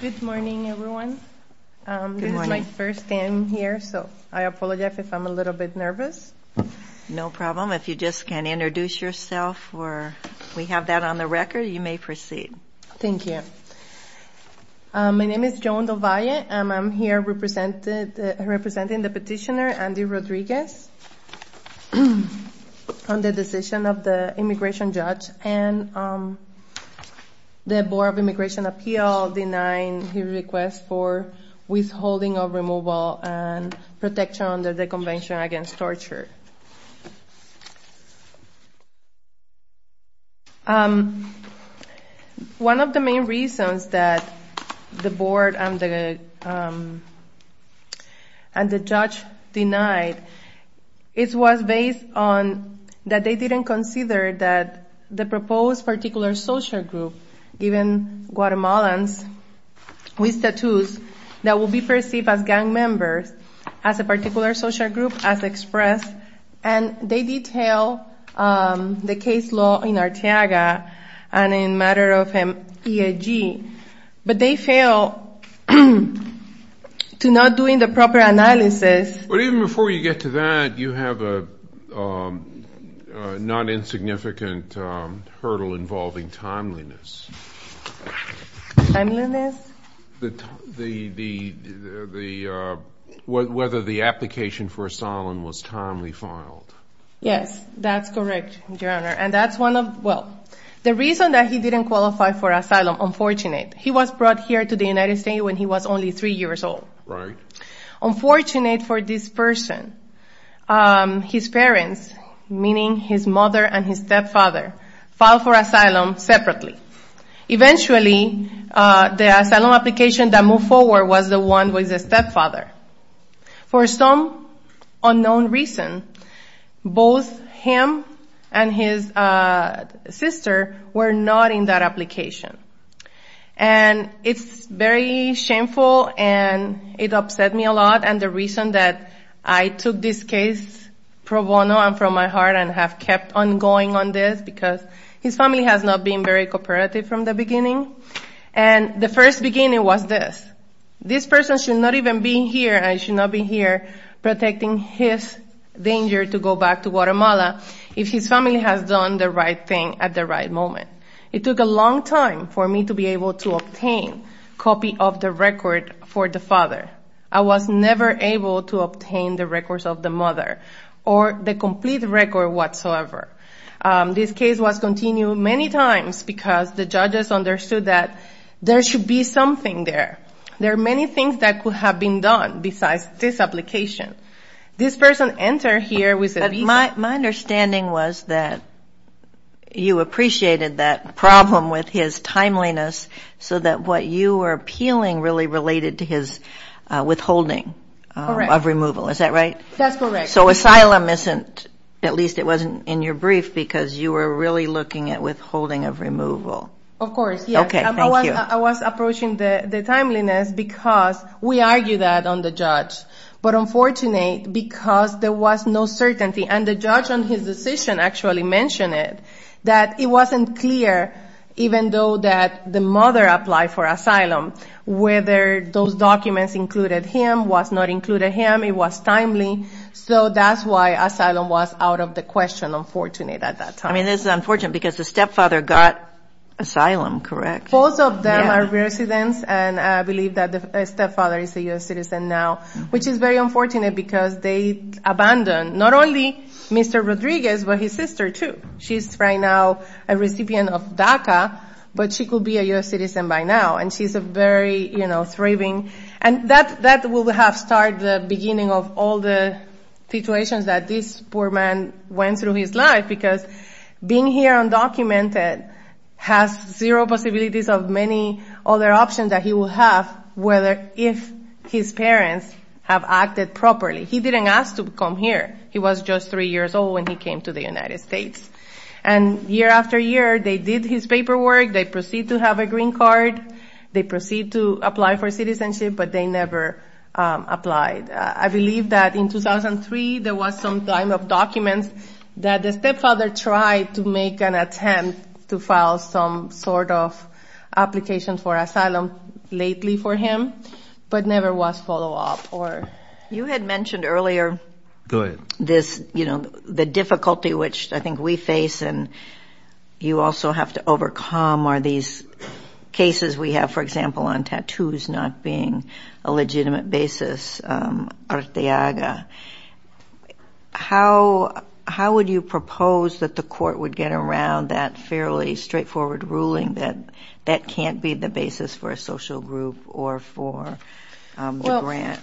Good morning, everyone. This is my first time here, so I apologize if I'm a little bit nervous. No problem. If you just can introduce yourself or we have that on the record, you may proceed. Thank you. My name is Joan Dovalle. I'm here representing the petitioner, Andy Rodriguez, on the decision of the immigration judge and the Board of Immigration Appeals denying his request for withholding of removal and protection under the Convention Against Torture. One of the main reasons that the Board and the judge denied, it was based on that they didn't consider that the proposed particular social group, given Guatemalans with tattoos, that will be perceived as gang members as a particular social group as expressed. And they detail the case law in Arteaga and in matter of EIG, but they fail to not doing the proper analysis. But even before you get to that, you have a not insignificant hurdle involving timeliness. Timeliness? Whether the application for asylum was timely filed. Yes, that's correct, Your Honor. And that's one of, well, the reason that he didn't qualify for asylum, unfortunate. He was brought here to the United States when he was only three years old. Right. Unfortunate for this person, his parents, meaning his mother and his stepfather, filed for asylum separately. Eventually, the asylum application that moved forward was the one with the stepfather. For some unknown reason, both him and his sister were not in that application. And it's very shameful and it upset me a lot. And the reason that I took this case pro bono and from my heart and have kept on going on this, because his family has not been very cooperative from the beginning. And the first beginning was this. This person should not even be here and should not be here protecting his danger to go back to Guatemala, if his family has done the right thing at the right moment. It took a long time for me to be able to obtain a copy of the record for the father. I was never able to obtain the records of the mother or the complete record whatsoever. This case was continued many times because the judges understood that there should be something there. There are many things that could have been done besides this application. This person entered here with a visa. My understanding was that you appreciated that problem with his timeliness, so that what you were appealing really related to his withholding of removal. Is that right? That's correct. So asylum isn't, at least it wasn't in your brief, because you were really looking at withholding of removal. Of course, yes. Okay, thank you. I was approaching the timeliness because we argued that on the judge. But unfortunately, because there was no certainty, and the judge on his decision actually mentioned it, that it wasn't clear, even though that the mother applied for asylum, whether those documents included him, was not included him, it was timely. So that's why asylum was out of the question, unfortunately, at that time. I mean, this is unfortunate, because the stepfather got asylum, correct? Both of them are residents, and I believe that the stepfather is a U.S. citizen now, which is very unfortunate because they abandoned not only Mr. Rodriguez, but his sister, too. She's right now a recipient of DACA, but she could be a U.S. citizen by now. And she's a very, you know, thriving. And that will have started the beginning of all the situations that this poor man went through in his life, because being here undocumented has zero possibilities of many other options that he will have, whether if his parents have acted properly. He didn't ask to come here. He was just three years old when he came to the United States. And year after year, they did his paperwork, they proceeded to have a green card, they proceeded to apply for citizenship, but they never applied. I believe that in 2003, there was some kind of documents that the stepfather tried to make an attempt to file some sort of application for asylum lately for him, but never was follow-up. You had mentioned earlier this, you know, the difficulty which I think we face, and you also have to overcome are these cases we have, for example, on tattoos not being a legitimate basis, Arteaga. How would you propose that the court would get around that fairly straightforward ruling that that can't be the basis for a social group or for the grant?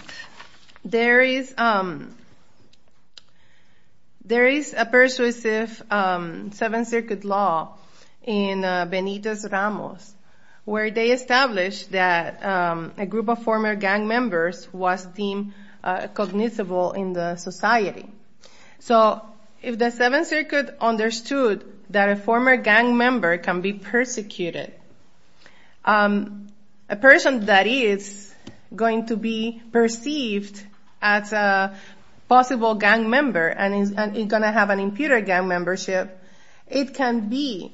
Well, there is a persuasive Seventh Circuit law in Benitez Ramos, where they established that a group of former gang members was deemed cognizable in the society. So if the Seventh Circuit understood that a former gang member can be persecuted, a person that is going to be perceived as a possible gang member and is going to have an imputed gang membership, it can be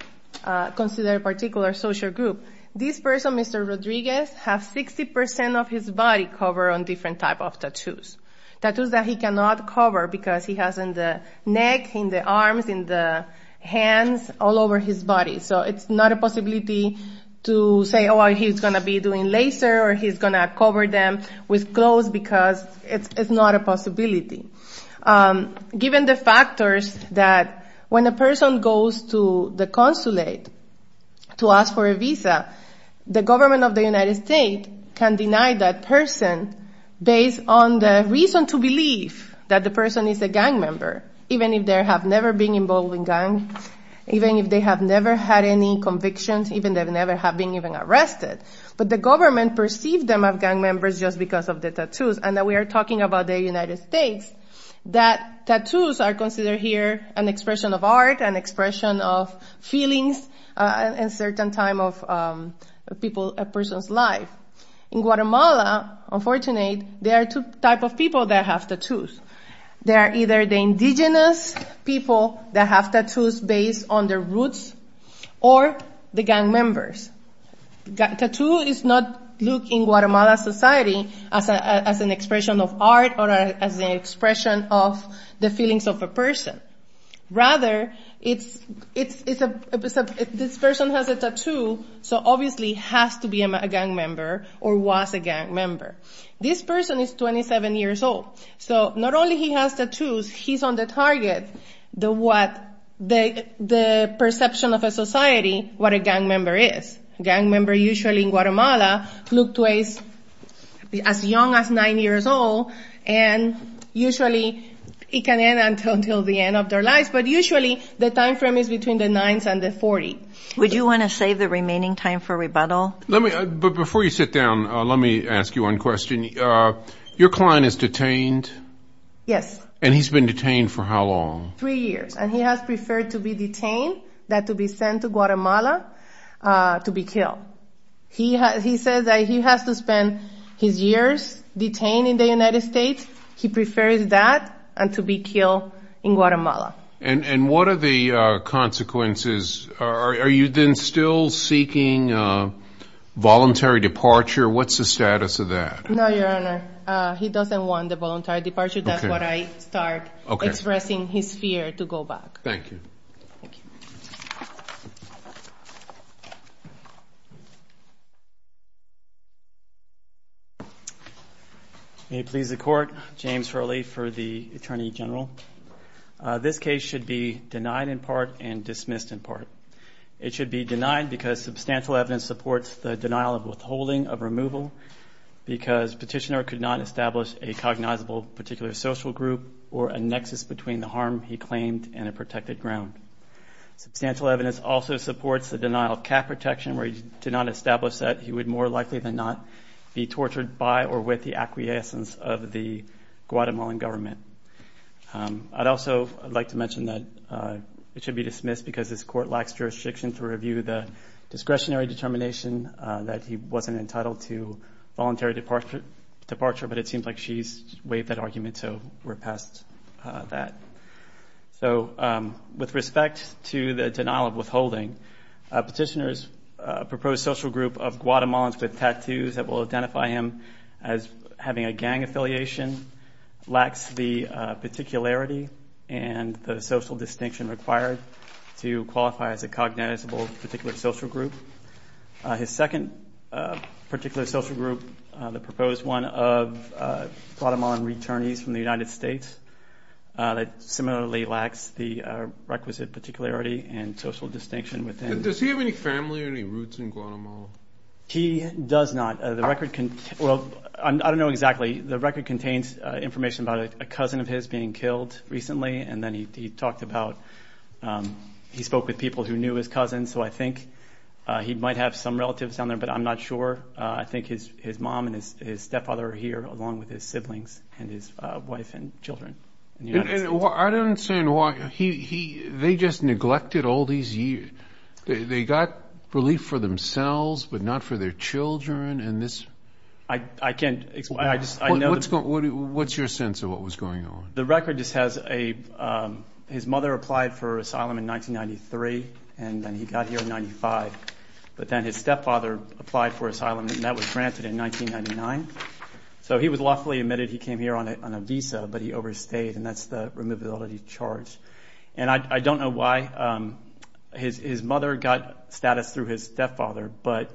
considered a particular social group. This person, Mr. Rodriguez, has 60% of his body covered on different types of tattoos, tattoos that he cannot cover because he has in the neck, in the arms, in the hands, all over his body. So it's not a possibility to say, oh, he's going to be doing laser or he's going to cover them with clothes because it's not a possibility. Given the factors that when a person goes to the consulate to ask for a visa, the government of the United States can deny that person based on the reason to believe that the person is a gang member, even if they have never been involved in gang, even if they have never had any convictions, even if they have never been even arrested. But the government perceived them as gang members just because of the tattoos, and that we are talking about the United States, that tattoos are considered here an expression of art, an expression of feelings in a certain time of a person's life. In Guatemala, unfortunately, there are two types of people that have tattoos. There are either the indigenous people that have tattoos based on their roots or the gang members. Tattoo is not looked in Guatemala society as an expression of art or as an expression of the feelings of a person. Rather, this person has a tattoo, so obviously has to be a gang member or was a gang member. This person is 27 years old. So not only he has tattoos, he's on the target, the perception of a society, what a gang member is. Gang member usually in Guatemala look to age as young as nine years old, and usually it can end until the end of their lives, but usually the time frame is between the nines and the 40. Would you want to save the remaining time for rebuttal? Before you sit down, let me ask you one question. Your client is detained? Yes. And he's been detained for how long? Three years, and he has preferred to be detained than to be sent to Guatemala to be killed. He says that he has to spend his years detained in the United States. He prefers that than to be killed in Guatemala. And what are the consequences? Are you then still seeking voluntary departure? What's the status of that? No, Your Honor. He doesn't want the voluntary departure. That's what I start expressing his fear to go back. Thank you. May it please the Court. James Hurley for the Attorney General. This case should be denied in part and dismissed in part. It should be denied because substantial evidence supports the denial of withholding of removal, because Petitioner could not establish a cognizable particular social group or a nexus between the harm he claimed and a protected ground. Substantial evidence also supports the denial of cap protection, where he did not establish that he would more likely than not be tortured by or with the acquiescence of the Guatemalan government. I'd also like to mention that it should be dismissed because this Court lacks jurisdiction to review the discretionary determination that he wasn't entitled to voluntary departure, but it seems like she's waived that argument, so we're past that. So with respect to the denial of withholding, Petitioner's proposed social group of Guatemalans with tattoos that will identify him as having a gang affiliation lacks the particularity and the social distinction required to qualify as a cognizable particular social group. His second particular social group, the proposed one of Guatemalan returnees from the United States, similarly lacks the requisite particularity and social distinction within... Does he have any family or any roots in Guatemala? He does not. I don't know exactly. The record contains information about a cousin of his being killed recently, and then he talked about... He spoke with people who knew his cousin, so I think he might have some relatives down there, but I'm not sure. I think his mom and his stepfather are here, along with his siblings and his wife and children. I don't understand why he... They just neglected all these years. They got relief for themselves, but not for their children, and this... I can't explain. I just... I know... What's your sense of what was going on? The record just has a... His mother applied for asylum in 1993, and then he got here in 95, but then his stepfather applied for asylum, and that was granted in 1999. So he was lawfully admitted. He came here on a visa, but he overstayed, and that's the removability charge. And I don't know why his mother got status through his stepfather, but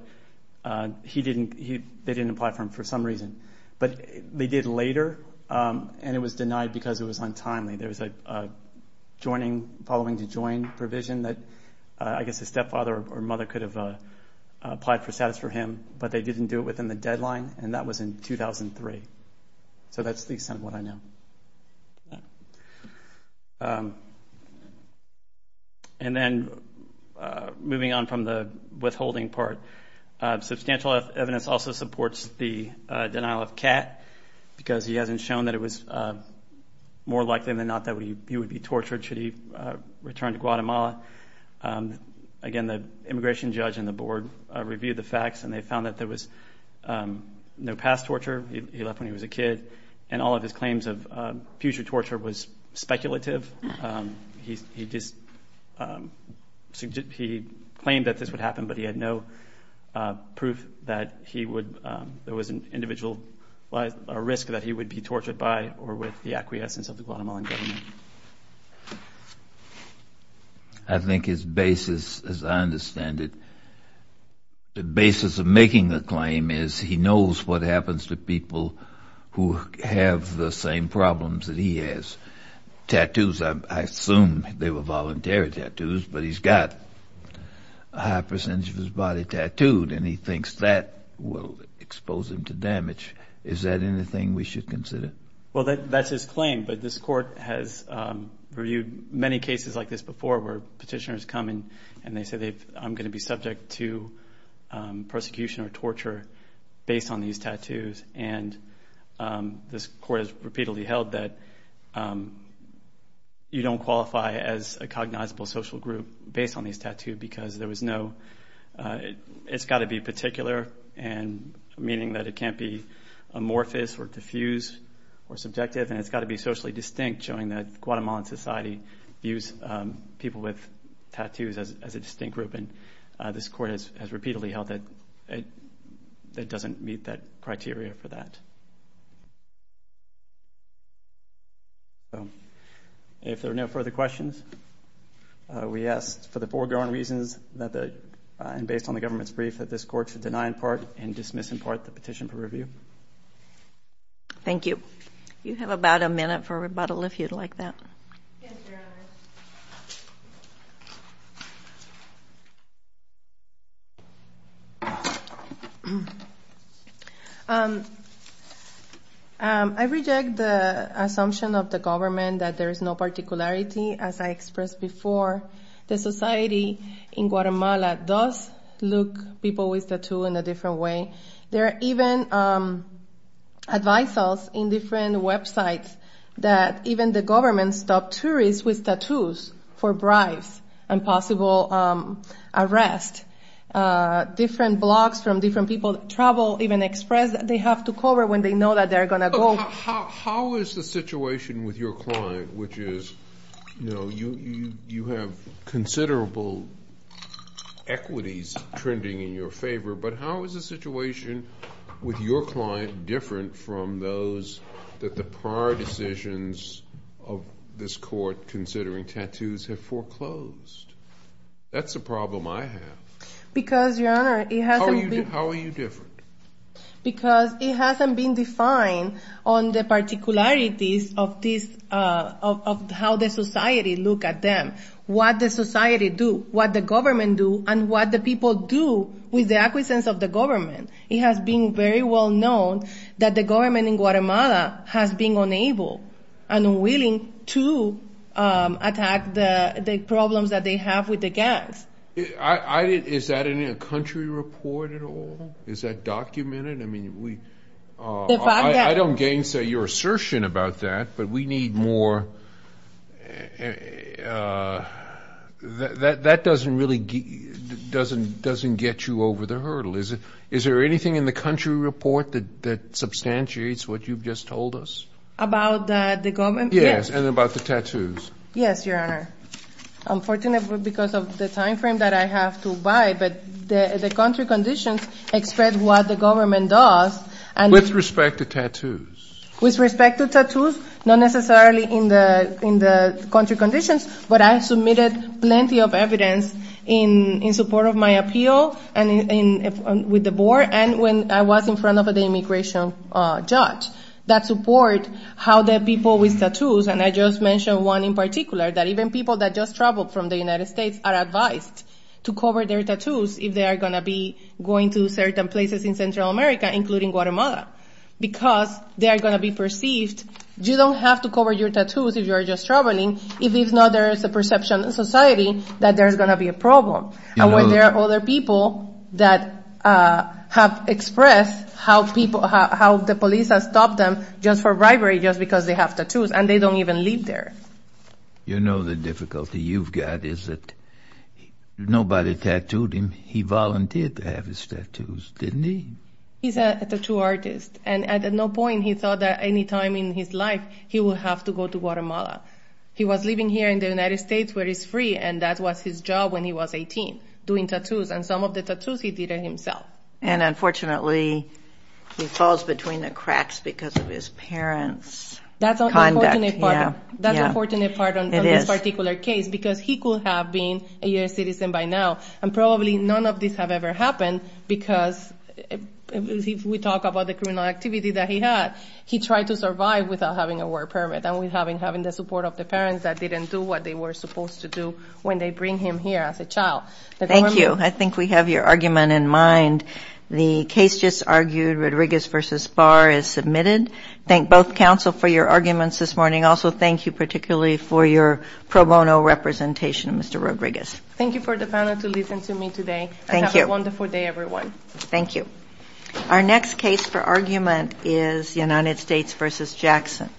he didn't... They didn't apply for him for some reason, but they did later, and it was denied because it was untimely. There was a joining, following to join provision that I guess his stepfather or mother could have applied for status for him, but they didn't do it within the deadline, and that was in 2003. So that's the extent of what I know. And then moving on from the withholding part, substantial evidence also supports the denial of CAT, because he hasn't shown that it was more likely than not that he would be tortured should he return to Guatemala. Again, the immigration judge and the board reviewed the facts, and they found that there was no past torture. He left when he was a kid, and all of his claims of future torture was speculative. He claimed that this would happen, but he had no proof that he would... There was an individual risk that he would be tortured by or with the acquiescence of the Guatemalan government. I think his basis, as I understand it, the basis of making the claim is he knows what happens to people who have the same problems that he has. Tattoos, I assume they were voluntary tattoos, but he's got a high percentage of his body tattooed, and he thinks that will expose him to damage. Is that anything we should consider? No, I think it's important that the petitioners come and they say, I'm going to be subject to persecution or torture based on these tattoos. And this court has repeatedly held that you don't qualify as a cognizable social group based on these tattoos, because there was no... It's got to be particular, meaning that it can't be amorphous or diffuse or subjective, and it's got to be socially distinct, showing that Guatemalan society views people with tattoos as a distinct group. And this court has repeatedly held that it doesn't meet that criteria for that. If there are no further questions, we ask for the foreground reasons and based on the government's brief that this court should deny in part and dismiss in part the petition for review. Thank you. I reject the assumption of the government that there is no particularity. As I expressed before, the society in Guatemala does look people with tattoo in a different way. There are even advices in different websites that even the government stopped tourists with tattoos for bribes and possible arrest. Different blogs from different people, travel, even express that they have to cover when they know that they're going to go. How is the situation with your client, which is, you know, you have considerable equities trending in your favor, but how is the situation with your client different from those that the prior decisions of this court considering tattoos have foreclosed? That's a problem I have. Because it hasn't been defined on the particularities of how the society look at them, what the society do, what the government do, and what the people do with the acquiescence of the government. It has been very well known that the government in Guatemala has been unable and unwilling to attack the problems that they have with the gangs. Is that in a country report at all? Is that documented? I mean, I don't gainsay your assertion about that, but we need more information. That doesn't really get you over the hurdle. Is there anything in the country report that substantiates what you've just told us? About the government, yes. Yes, and about the tattoos. Yes, Your Honor. Unfortunately, because of the time frame that I have to abide, but the country conditions express what the government does. With respect to tattoos? Not necessarily in the country conditions, but I submitted plenty of evidence in support of my appeal, with the board, and when I was in front of the immigration judge, that support how the people with tattoos, and I just mentioned one in particular, that even people that just traveled from the United States are advised to cover their tattoos, if they are going to be going to certain places in Central America, including Guatemala. Because they are going to be perceived, you don't have to cover your tattoos if you are just traveling, if not there is a perception in society that there is going to be a problem. And when there are other people that have expressed how the police has stopped them, just for bribery, just because they have tattoos, and they don't even live there. You know the difficulty you've got is that nobody tattooed him, he volunteered to have his tattoos, didn't he? He's a tattoo artist, and at no point he thought that any time in his life he would have to go to Guatemala. He was living here in the United States where it's free, and that was his job when he was 18, doing tattoos, and some of the tattoos he did himself. And unfortunately he falls between the cracks because of his parents' conduct. That's an unfortunate part on this particular case, because he could have been a U.S. citizen by now, and probably none of this have ever happened, because if we talk about the criminal activity that he had, he tried to survive without having a work permit, and without having the support of the parents that didn't do what they were supposed to do when they bring him here as a child. Thank you. I think we have your argument in mind. The case just argued, Rodriguez v. Barr, is submitted. Thank both counsel for your arguments this morning. Also thank you particularly for your pro bono representation, Mr. Rodriguez. Thank you for the panel to listen to me today. Have a wonderful day, everyone. Our next case for argument is United States v. Jackson.